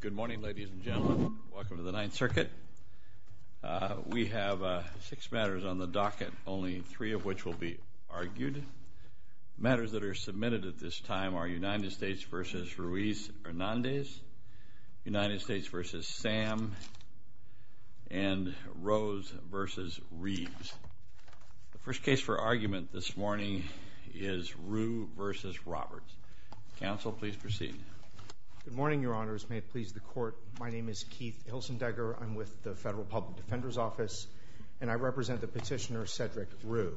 Good morning ladies and gentlemen. Welcome to the Ninth Circuit. We have six matters on the docket, only three of which will be argued. Matters that are submitted at this time are United States v. Ruiz Hernandez, United States v. Sam, and Rose v. Reeves. The first case for argument this morning is Rue v. Roberts. Counsel, please proceed. Good morning, Your Honors. May it please the Court. My name is Keith Hilsendegger. I'm with the Federal Public Defender's Office, and I represent the petitioner Cedric Rue.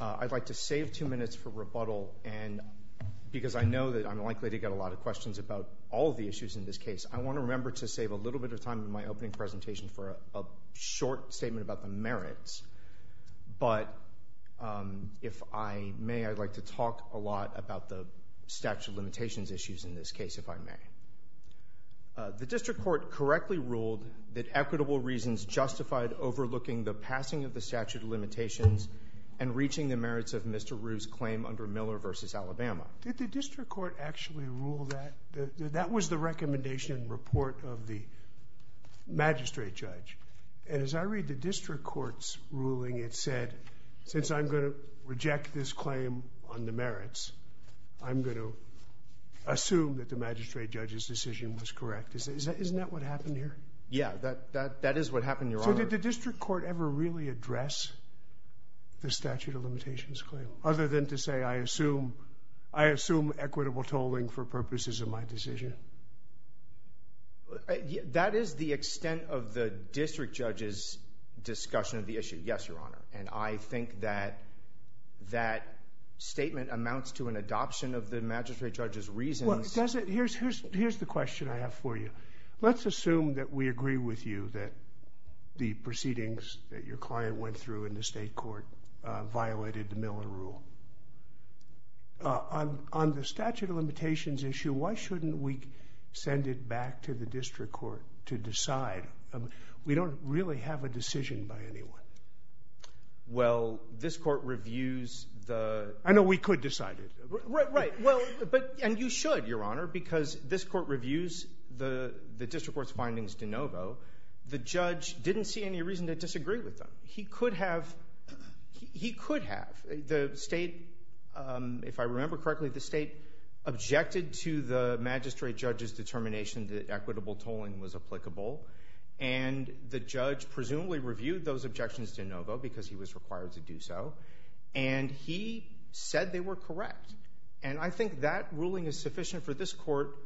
I'd like to save two minutes for rebuttal, because I know that I'm likely to get a lot of questions about all the issues in this case. I want to remember to save a little bit of time in my opening presentation for a short statement about the merits, but if I may, I'd like to talk a lot about the statute of limitations issues in this case, if I may. The district court correctly ruled that equitable reasons justified overlooking the passing of the statute of limitations and reaching the merits of Mr. Rue's claim under Miller v. Alabama. Did the district court actually rule that? That was the recommendation report of the magistrate judge, and as I am going to reject this claim on the merits, I'm going to assume that the magistrate judge's decision was correct. Isn't that what happened here? Yeah, that is what happened, Your Honor. So did the district court ever really address the statute of limitations claim, other than to say, I assume equitable tolling for purposes of my decision? That is the extent of the district judge's yes, Your Honor, and I think that that statement amounts to an adoption of the magistrate judge's reasons. Here's the question I have for you. Let's assume that we agree with you that the proceedings that your client went through in the state court violated the Miller rule. On the statute of limitations issue, why shouldn't we send it back to the district court to decide? We don't really have a decision by anyone. Well, this court reviews the... I know we could decide it. Right, right. Well, but, and you should, Your Honor, because this court reviews the district court's findings de novo. The judge didn't see any reason to disagree with them. He could have. He could have. The state, if I remember correctly, the state objected to the magistrate judge's determination that and the judge presumably reviewed those objections de novo, because he was required to do so, and he said they were correct. And I think that ruling is sufficient for this court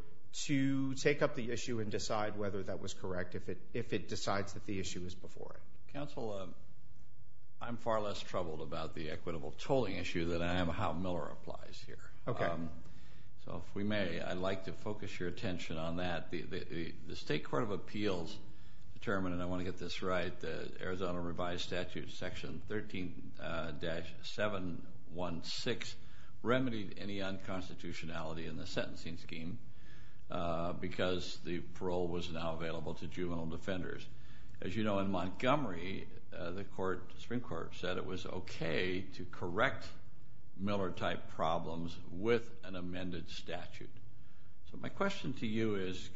to take up the issue and decide whether that was correct, if it decides that the issue is before it. Counsel, I'm far less troubled about the equitable tolling issue than I am how Miller applies here. Okay. So if we may, I'd like to focus your attention on that. The state court of appeals determined, and I want to get this right, the Arizona revised statute section 13-716 remedied any unconstitutionality in the sentencing scheme, because the parole was now available to juvenile defenders. As you know, in Montgomery, the court, Supreme Court, said it was okay to correct Miller type problems with an amended statute. So my question to you is,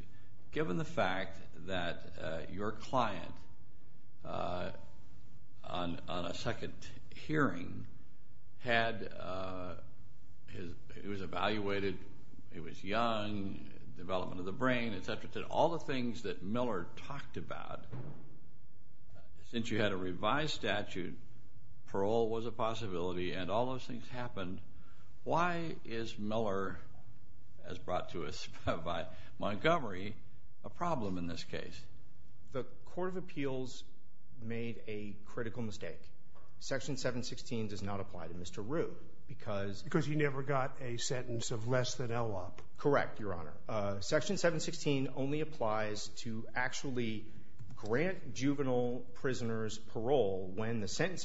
given the fact that your client, on a second hearing, had, he was evaluated, he was young, development of the brain, et cetera, all the things that Miller talked about, since you had a revised statute, parole was a possibility, and all those Miller, as brought to us by Montgomery, a problem in this case? The court of appeals made a critical mistake. Section 716 does not apply to Mr. Rue, because Because he never got a sentence of less than LOP. Correct, Your Honor. Section 716 only applies to actually grant juvenile prisoners parole when the there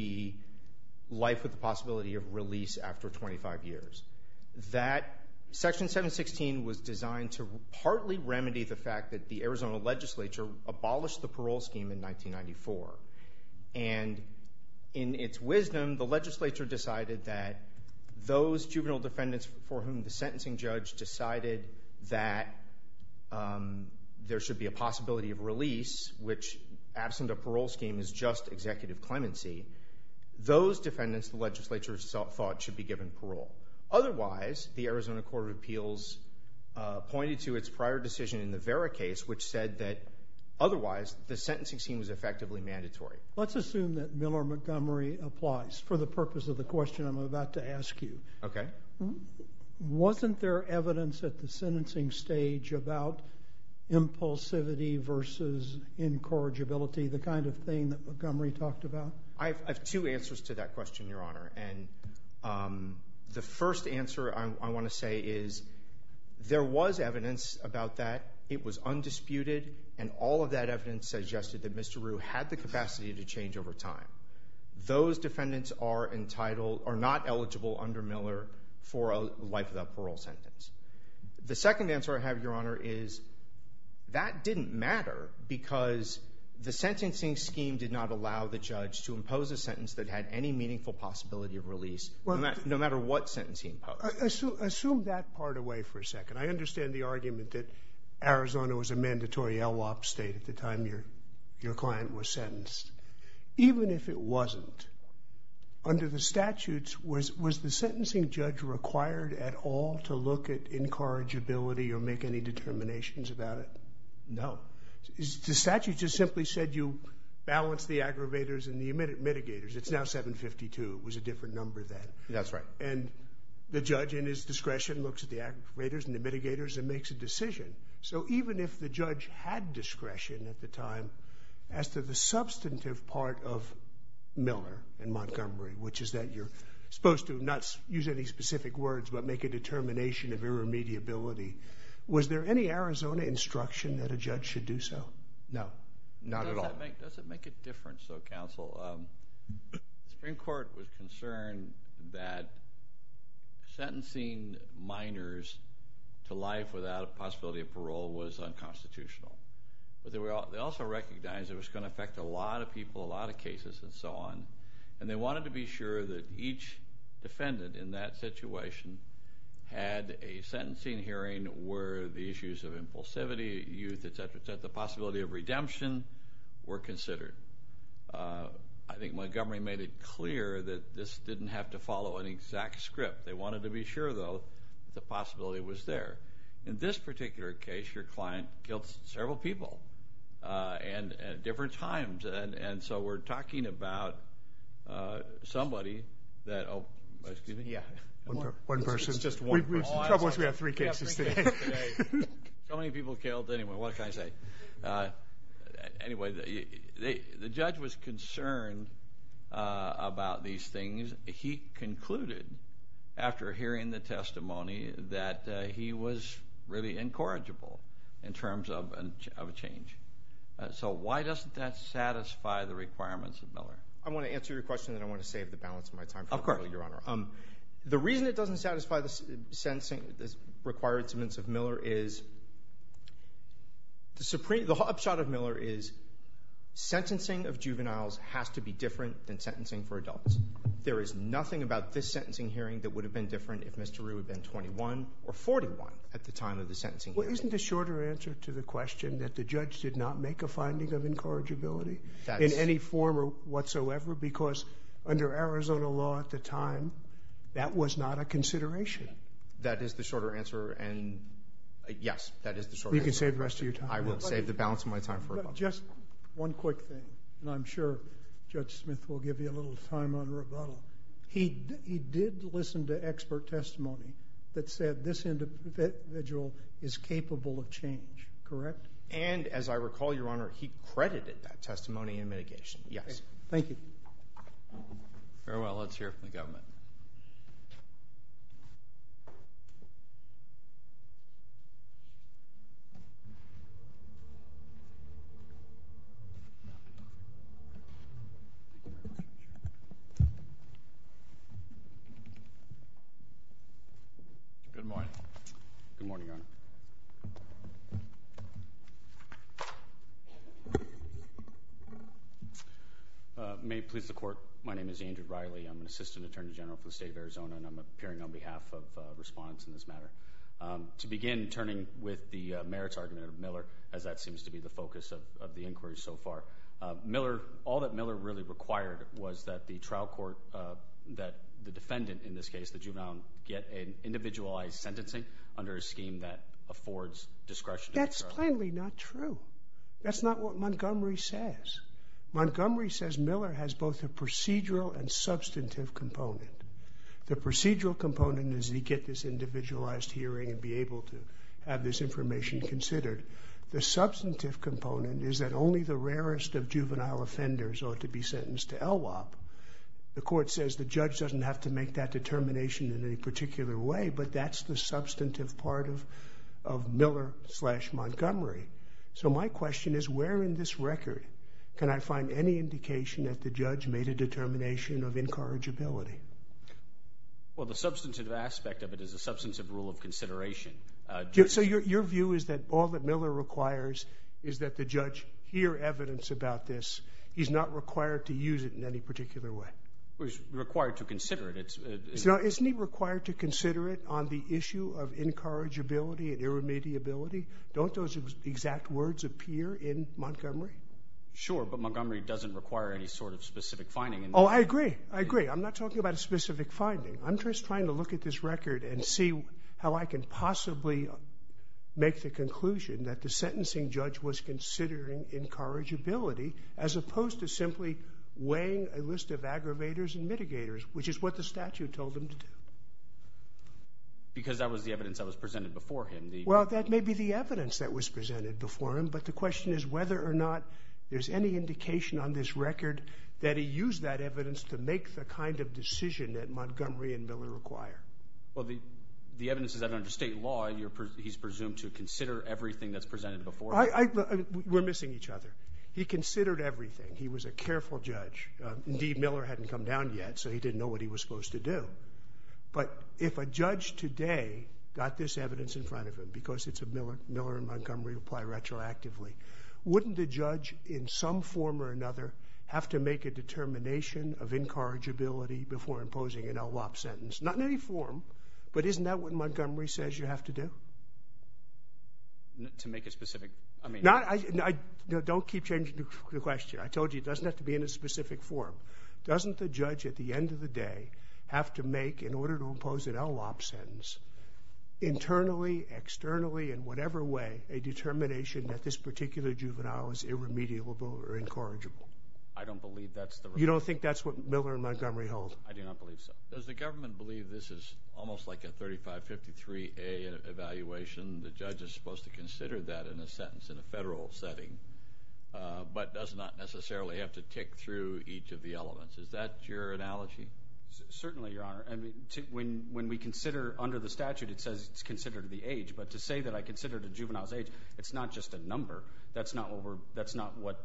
should be a possibility of release after 25 years. That, section 716 was designed to partly remedy the fact that the Arizona legislature abolished the parole scheme in 1994, and in its wisdom, the legislature decided that those juvenile defendants for whom the sentencing judge decided that there should be a possibility of release, which, absent a parole scheme, is just something that the legislature thought should be given parole. Otherwise, the Arizona Court of Appeals pointed to its prior decision in the Vera case, which said that, otherwise, the sentencing scheme was effectively mandatory. Let's assume that Miller Montgomery applies, for the purpose of the question I'm about to ask you. Okay. Wasn't there evidence at the sentencing stage about impulsivity versus incorrigibility, the kind of thing that Montgomery talked about? I have two answers to that question, Your Honor, and the first answer I want to say is there was evidence about that. It was undisputed, and all of that evidence suggested that Mr. Rue had the capacity to change over time. Those defendants are not eligible under Miller for a life without parole sentence. The second answer I have, Your Honor, is that didn't matter because the sentencing scheme did not allow the judge to impose a sentence that had any meaningful possibility of release, no matter what sentence he imposed. Assume that part away for a second. I understand the argument that Arizona was a mandatory LWOP state at the time your client was sentenced. Even if it wasn't, under the statutes, was the sentencing judge required at all to look at incorrigibility or make any decision? The statute just simply said you balance the aggravators and the mitigators. It's now 752. It was a different number then. That's right. And the judge, in his discretion, looks at the aggravators and the mitigators and makes a decision. So even if the judge had discretion at the time as to the substantive part of Miller and Montgomery, which is that you're supposed to not use any specific words but make a determination of irremediability, was there any Arizona instruction that a judge should do so? No. Not at all. Does it make a difference, though, counsel? The Supreme Court was concerned that sentencing minors to life without a possibility of parole was unconstitutional. But they also recognized it was gonna affect a lot of people, a lot of cases, and so on. And they wanted to be sure that each defendant in that situation had a sentencing hearing where the issues of impulsivity, youth, et cetera, et cetera, the possibility of redemption were considered. I think Montgomery made it clear that this didn't have to follow an exact script. They wanted to be sure, though, that the possibility was there. In this particular case, your client killed several people at different times. And so we're talking about somebody that... Excuse me? Yeah. One person. It's just one person. The trouble is we have three cases today. So many people killed. Anyway, what can I say? Anyway, the judge was concerned about these things. He concluded, after hearing the testimony, that he was really incorrigible in terms of a change. So why doesn't that satisfy the requirements of Miller? I wanna answer your question, and I wanna save the balance of my time. Of course. Your honor. The reason it doesn't satisfy the required statements of Miller is... The upshot of Miller is sentencing of juveniles has to be different than sentencing for adults. There is nothing about this sentencing hearing that would have been different if Mr. Rue had been 21 or 41 at the time of the sentencing hearing. Well, isn't the shorter answer to the question that the judge did not make a finding of incorrigibility in any form whatsoever? Because under Arizona law at the time, that was not a consideration. That is the shorter answer, and yes, that is the shorter answer. You can save the rest of your time. I will save the balance of my time for rebuttal. Just one quick thing, and I'm sure Judge Smith will give you a little time on rebuttal. He did listen to expert testimony that said this individual is capable of change, correct? And as I recall, your honor, he credited that testimony in mitigation. Yes. Thank you. Very well. Let's hear from the government. Good morning. Good morning, your honor. May it please the court. My name is Andrew Riley. I'm an assistant attorney general for the state of Arizona, and I'm appearing on behalf of respondents in this matter. To begin, turning with the merits argument of Miller, as that seems to be the focus of the inquiry so far, Miller... All that Miller really required was that the trial court, that the defendant in this case, the juvenile, get an individualized sentencing under a scheme that affords discretion to the trial court. That's plainly not true. That's not what Montgomery says. Montgomery says Miller has both a procedural and substantive component. The procedural component is that he get this individualized hearing and be able to have this information considered. The substantive component is that only the rarest of juvenile offenders ought to be sentenced to LWOP. The court says the judge doesn't have to make that determination in any particular way, but that's the substantive part of Miller slash Montgomery. So my question is, where in this record can I find any indication that the judge made a determination of incorrigibility? Well, the substantive aspect of it is a substantive rule of consideration. So your view is that all that Miller requires is that the judge hear evidence about this. He's not required to use it in any particular way. He's required to consider it. Isn't he required to consider it on the issue of incorrigibility and irremediability? Don't those exact words appear in Montgomery? Sure, but Montgomery doesn't require any sort of specific finding. Oh, I agree. I agree. I'm not talking about a specific finding. I'm just trying to look at this record and see how I can possibly make the conclusion that the sentencing judge was considering incorrigibility, as opposed to simply weighing a list of aggravators and mitigators, which is what the statute told him to do. Because that was the evidence that was presented before him. Well, that may be the evidence that was presented before him, but the question is whether or not there's any indication on this record that he used that evidence to make the kind of decision that Montgomery and Miller require. Well, the evidence is that under state law, he's presumed to consider everything that's presented before him. We're missing each other. He considered everything. He was a careful judge. Indeed, Miller hadn't come down yet, so he didn't know what he was supposed to do. But if a judge today got this evidence in front of him, because it's a Miller and Montgomery reply retroactively, wouldn't the judge in some form or another have to make a determination of incorrigibility before imposing an LLOP sentence? Not in any form, but isn't that what Montgomery says you have to do? To make a specific... I mean... Don't keep changing the question. I told you it doesn't have to be in a specific form. Doesn't the judge at the end of the day have to make, in order to impose an LLOP sentence, internally, externally, in whatever way, a determination that this particular juvenile is irremediable or incorrigible? I don't believe that's the... You don't think that's what Miller and Montgomery hold? I do not believe so. Does the government believe this is almost like a 3553A evaluation? The judge is supposed to consider that in a sentence, in a federal setting, but does not necessarily have to tick through each of the elements. Is that your analogy? Certainly, Your Honor. I mean, when we consider, under the statute, it says it's considered the age, but to say that I consider it a juvenile's age, it's not just a number. That's not what...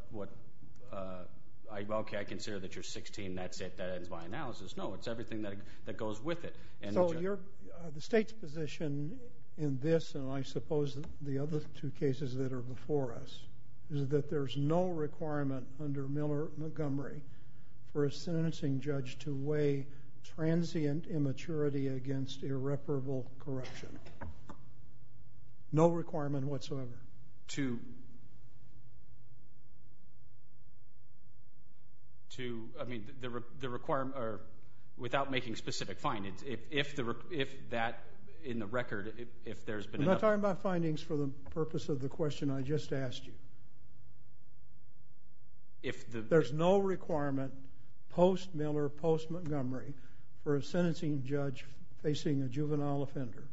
Okay, I consider that you're 16, that's it. That ends my analysis. No, it's everything that goes with it. So the state's position in this, and I suppose the other two cases that are before us, is that there's no requirement under Miller and Montgomery for a sentencing judge to weigh transient immaturity against irreparable corruption. No requirement whatsoever. To... I mean, the requirement... Or without making specific findings, if that, in the record, if there's been enough... I'm not talking about findings for the purpose of the question I just asked you. There's no requirement, post Miller, post Montgomery, for a sentencing judge facing a juvenile offender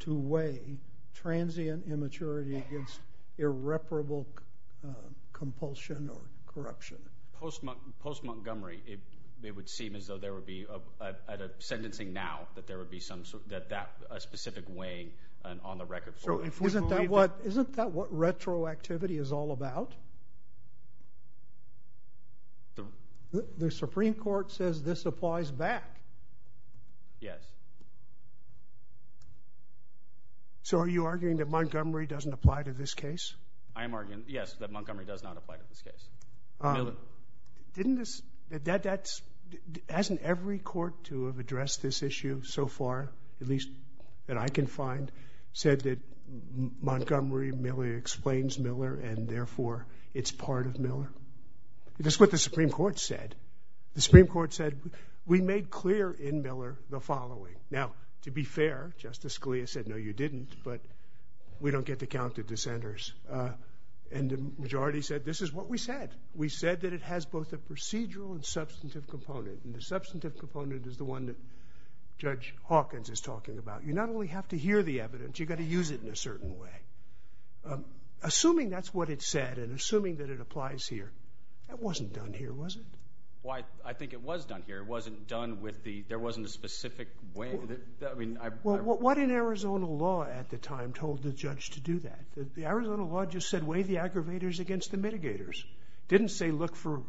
to weigh transient immaturity against irreparable compulsion or corruption. Post Montgomery, it would seem as though there would be, at a sentencing now, that there would be some... That that specific weighing on the record... So, isn't that what retroactivity is all about? The Supreme Court says this applies back. Yes. So are you arguing that Montgomery doesn't apply to this case? I am arguing, yes, that Montgomery does not apply to this case. Miller... Didn't this... That's... Hasn't every court to have addressed this issue so far, at least that I can know it's part of Miller? That's what the Supreme Court said. The Supreme Court said, we made clear in Miller the following. Now, to be fair, Justice Scalia said, no, you didn't, but we don't get to count the dissenters. And the majority said, this is what we said. We said that it has both a procedural and substantive component, and the substantive component is the one that Judge Hawkins is talking about. You not only have to hear the evidence, you gotta use it in a certain way. Assuming that's what it said, and assuming that it applies here, that wasn't done here, was it? Well, I think it was done here. It wasn't done with the... There wasn't a specific way... Well, what in Arizona law at the time told the judge to do that? The Arizona law just said, weigh the aggravators against the mitigators. Didn't say, look for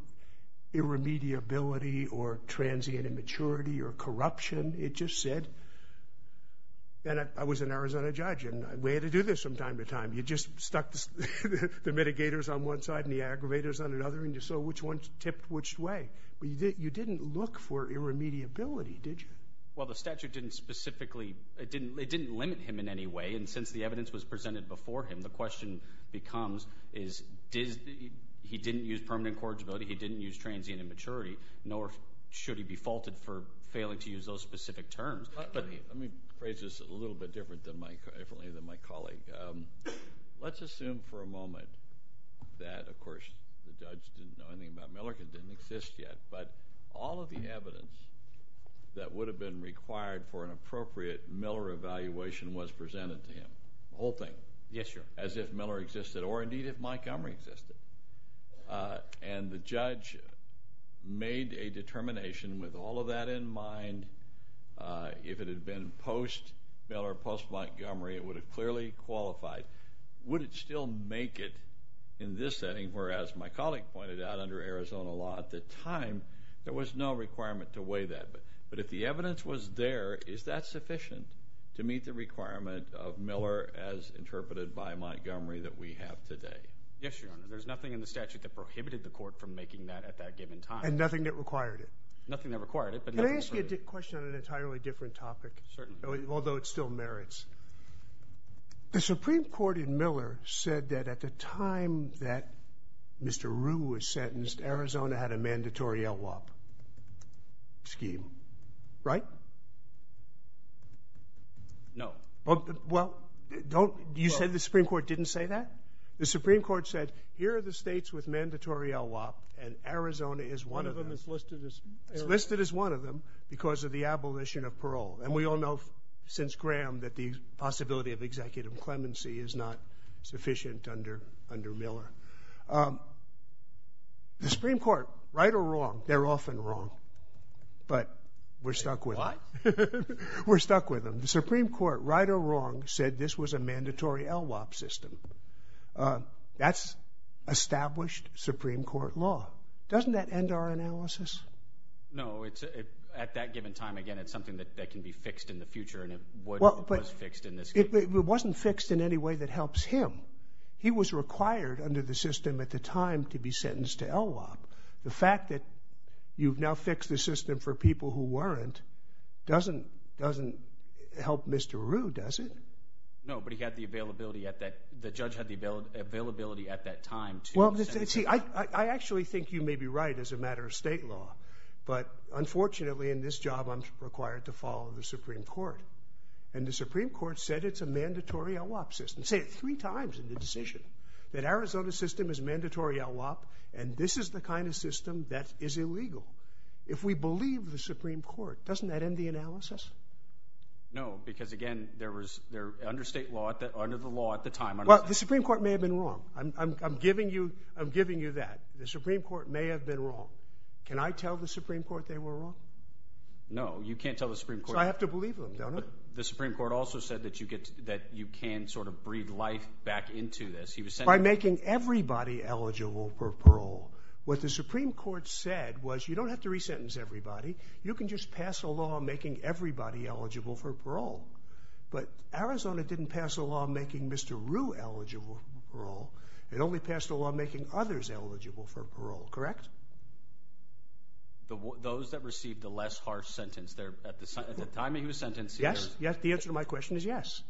irremediability or transient immaturity or corruption. It just said... And I was an Arizona judge, and we had to do this from time to time. You just stuck the mitigators on one side and the aggravators on another, and you saw which one tipped which way. But you didn't look for irremediability, did you? Well, the statute didn't specifically... It didn't limit him in any way, and since the evidence was presented before him, the question becomes, is... He didn't use permanent corrigibility, he didn't use transient immaturity, nor should he be faulted for failing to use those specific terms. Let me phrase this a little bit differently than my colleague. Let's assume for a moment that, of course, the judge didn't know anything about Miller, it didn't exist yet, but all of the evidence that would have been required for an appropriate Miller evaluation was presented to him, the whole thing. Yes, sir. As if Miller existed, or indeed if Mike Elmer existed. And the judge made a determination with all of that in mind, if it had been post Miller, post Montgomery, it would have clearly qualified. Would it still make it in this setting, whereas my colleague pointed out under Arizona law at the time, there was no requirement to weigh that. But if the evidence was there, is that sufficient to meet the requirement of Miller as interpreted by Montgomery that we have today? Yes, Your Honor. There's nothing in the statute that prohibited the court from making that at that given time. And nothing that required it. Nothing that required it. Let me ask you a question on an entirely different topic. Certainly. Although it still merits. The Supreme Court in Miller said that at the time that Mr. Rue was sentenced, Arizona had a mandatory LWOP scheme, right? No. Well, don't... You said the Supreme Court didn't say that? The Supreme Court said, here are the states with mandatory LWOP and Arizona is one of them. One of them is listed as... It's listed as one of them because of the abolition of parole. And we all know since Graham that the possibility of executive clemency is not sufficient under Miller. The Supreme Court, right or wrong, they're often wrong, but we're stuck with them. What? We're stuck with them. The Supreme Court, right or wrong, said this was a mandatory LWOP system. That's established Supreme Court law. Doesn't that end our analysis? No, it's... At that given time, again, it's something that can be fixed in the future and it was fixed in this case. It wasn't fixed in any way that helps him. He was required under the system at the time to be sentenced to LWOP. The fact that you've now fixed the system for people who weren't doesn't help Mr. Rue, does it? No, but he had the availability at that... The judge had the availability at that time to... Well, see, I actually think you may be right as a matter of state law, but unfortunately, in this job, I'm required to follow the Supreme Court. And the Supreme Court said it's a mandatory LWOP system. It said it three times in the decision that Arizona's system is mandatory LWOP and this is the kind of system that is illegal. No, because again, there was... Under state law... Under the law at the time... Well, the Supreme Court may have been wrong. I'm giving you that. The Supreme Court may have been wrong. Can I tell the Supreme Court they were wrong? No, you can't tell the Supreme Court. So I have to believe them, don't I? The Supreme Court also said that you can sort of breathe life back into this. He was saying... By making everybody eligible for parole. What the Supreme Court said was, you don't have to make everybody eligible for parole. But Arizona didn't pass a law making Mr. Rue eligible for parole. It only passed a law making others eligible for parole, correct? Those that received a less harsh sentence, at the time that he was sentenced... Yes, yes. The answer to my question is yes.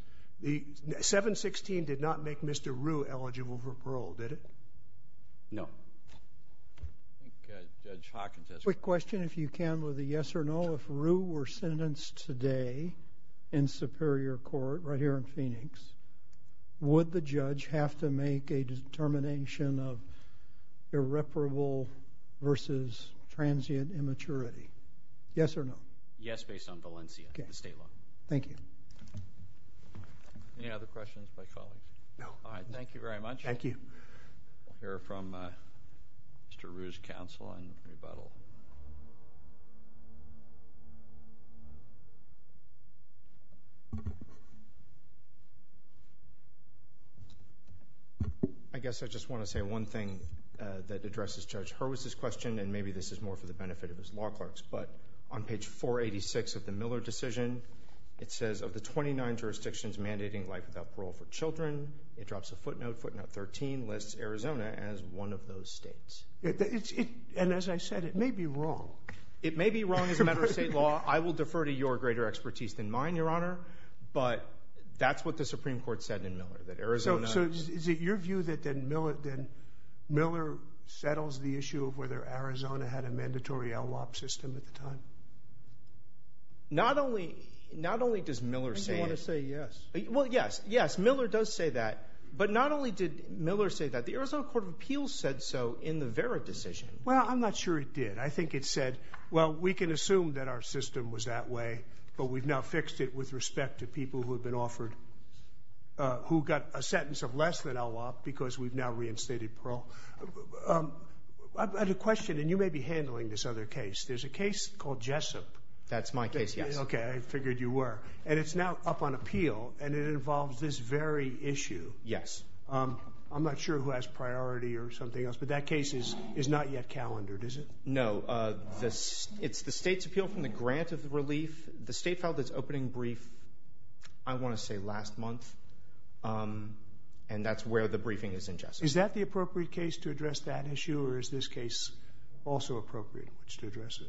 The 716 did not make Mr. Rue eligible for parole, did it? No. I think Judge Hawkins has... Quick question, if you can, with a yes or no, if Rue were sentenced today in Superior Court, right here in Phoenix, would the judge have to make a determination of irreparable versus transient immaturity? Yes or no? Yes, based on Valencia, the state law. Thank you. Any other questions by colleagues? No. Alright, thank you very much. Thank you. We'll hear from Mr. Rue's counsel in rebuttal. I guess I just wanna say one thing that addresses Judge Hurwitz's question, and maybe this is more for the benefit of his law clerks, but on page 486 of the Miller decision, it says, of the 29 jurisdictions mandating life without parole for children, it drops a footnote, footnote 13 lists Arizona as one of those states. And as I said, it may be wrong. It may be wrong as a matter of state law. I will defer to your greater expertise than mine, Your Honor, but that's what the Supreme Court said in Miller, that Arizona... So is it your view that Miller settles the issue of whether Arizona had a mandatory LWOP system at the time? Not only does Miller say... I think you wanna say yes. Well, yes. Yes, Miller does say that. But not only did Miller say that, the Arizona Court of Appeals said so in the Vera decision. Well, I'm not sure it did. I think it said, well, we can assume that our system was that way, but we've now fixed it with respect to people who have been offered... Who got a sentence of less than LWOP because we've now reinstated parole. I had a question, and you may be handling this other case. There's a case called Jessup. That's my case, yes. Okay, I figured you were. And it's now up on appeal, and it involves this very issue. Yes. I'm not sure who has priority or something else, but that case is not yet calendared, is it? No. It's the state's appeal from the grant of relief. The state filed its opening brief, I wanna say, last month, and that's where the briefing is in Jessup. Is that the appropriate case to address that issue, or is this case also appropriate to address it?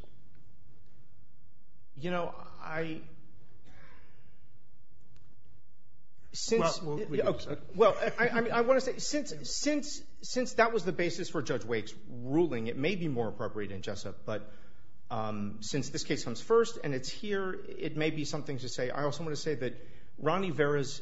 You know, I... Since... Well, I wanna say, since that was the basis for Judge Wake's ruling, it may be more appropriate in Jessup, but since this case comes first and it's here, it may be something to say. I also wanna say that Ronnie Vera's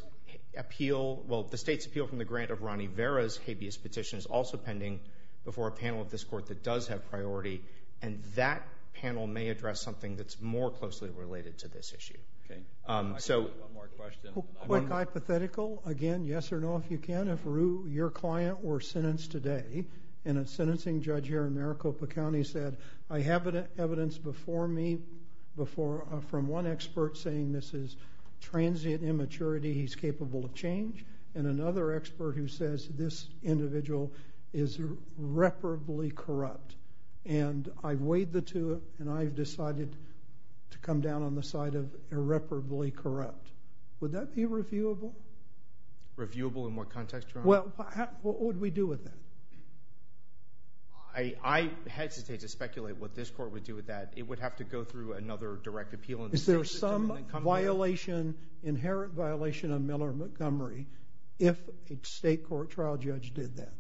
appeal, well, the state's appeal from the grant of Ronnie Vera's habeas petition is also pending before a panel of this court that does have priority, and that panel may address something that's more closely related to this issue. Okay. I have one more question. A quick hypothetical. Again, yes or no, if you can, if your client were sentenced today, and a sentencing judge here in Maricopa County said, I have evidence before me from one expert saying this is transient immaturity, he's capable of change, and another expert who says this individual is reparably corrupt. And I weighed the two, and I've decided to come down on the side of irreparably corrupt. Would that be reviewable? Reviewable in what context, Your Honor? Well, what would we do with that? I hesitate to speculate what this court would do with that. It would have to go through another direct appeal in the state system and then come to... Is there some violation, inherent violation on Miller and Montgomery, if a state court trial judge did that?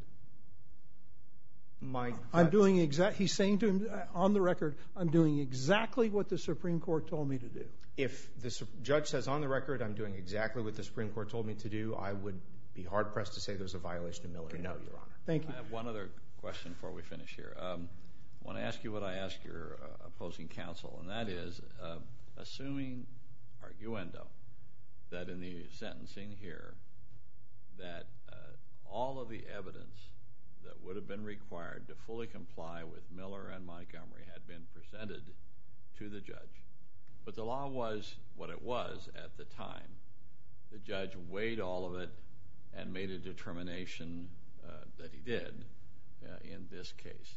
My... I'm doing exact... He's saying to him, on the record, I'm doing exactly what the Supreme Court told me to do. If the judge says, on the record, I'm doing exactly what the Supreme Court told me to do, I would be hard pressed to say there's a violation of Miller and Montgomery, Your Honor. Thank you. I have one other question before we finish here. I wanna ask you what I ask your opposing counsel, and that is, assuming arguendo, that in the sentencing here, that all of the evidence that would have been required to fully comply with Miller and Montgomery had been presented to the judge, but the law was what it was at the time. The judge weighed all of it and made a determination that he did in this case.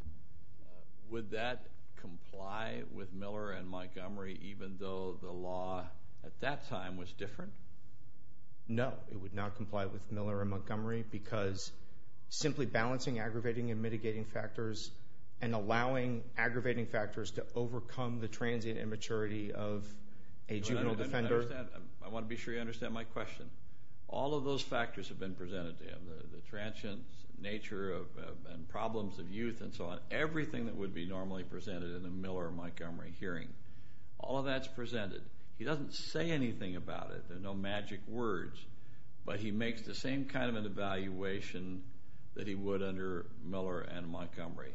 Would that comply with Miller and Montgomery, even though the law at that time was different? No, it would not comply with Miller and Montgomery because simply balancing aggravating and mitigating factors and allowing aggravating factors to overcome the transient immaturity of a juvenile defender... I wanna be sure you understand my question. All of those factors have been presented to him, the transient nature and problems of youth and so on. Everything that would be normally presented in a Miller and Montgomery hearing, all of that's presented. He doesn't say anything about it. There are no magic words, but he makes the same kind of an evaluation that he would under Miller and Montgomery.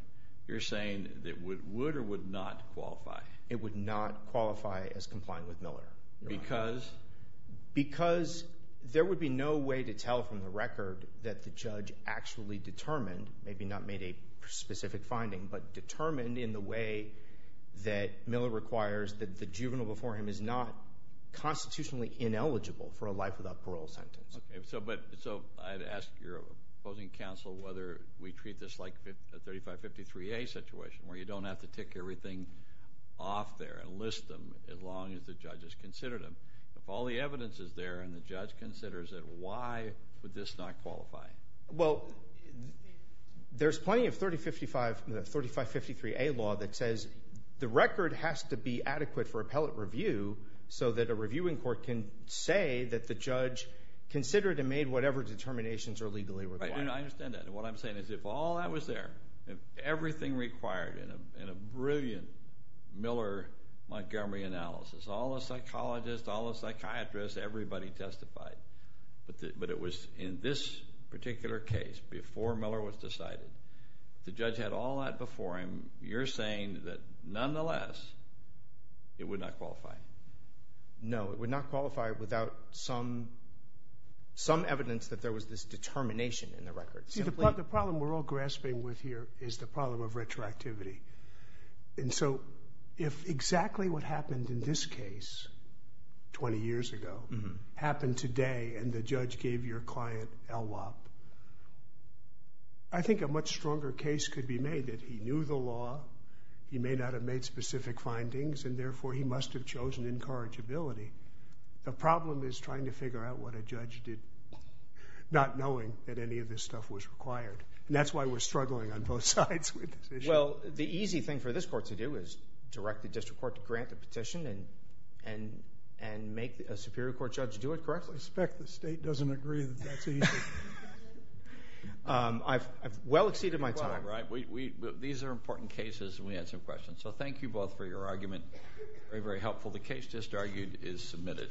You're saying that it would or would not qualify? It would not qualify as complying with Miller. Because? Because there would be no way to tell from the record that the judge actually determined, maybe not made a specific finding, but determined in the way that Miller requires that the juvenile before him is not constitutionally ineligible for a life without parole sentence. Okay, so I'd ask your opposing counsel whether we treat this like a 3553A situation, where you don't have to tick everything off there and list them as long as the judge has considered them. If all the evidence is there and the judge considers it, why would this not qualify? Well, there's plenty of 3553A law that says the record has to be adequate for appellate review so that a reviewing court can say that the judge considered and made whatever determinations are legally required. I understand that. And what I'm saying is if all that was there, everything required in a brilliant Miller-Montgomery analysis, all the psychologists, all the psychiatrists, everybody testified. But it was in this particular case before Miller was decided. If the judge had all that before him, you're saying that nonetheless, it would not qualify. No, it would not qualify without some evidence that there was this determination in the record. See, the problem we're all grasping with here is the problem of retroactivity. And so if exactly what happened in this case 20 years ago happened today and the judge gave your client LWOP, I think a much stronger case could be made that he knew the law, he may not have made specific findings, and therefore he must have chosen incorrigibility. The problem is trying to figure out what a judge did not knowing that any of this stuff was required. And that's why we're struggling on both sides with this issue. Well, the easy thing for this court to do is direct the district court to grant a petition and make a superior court judge do it, correct? I suspect the state doesn't agree with that. I've well exceeded my time. These are important cases and we had some questions. So thank you both for your argument. Very, very helpful. The case just argued is submitted.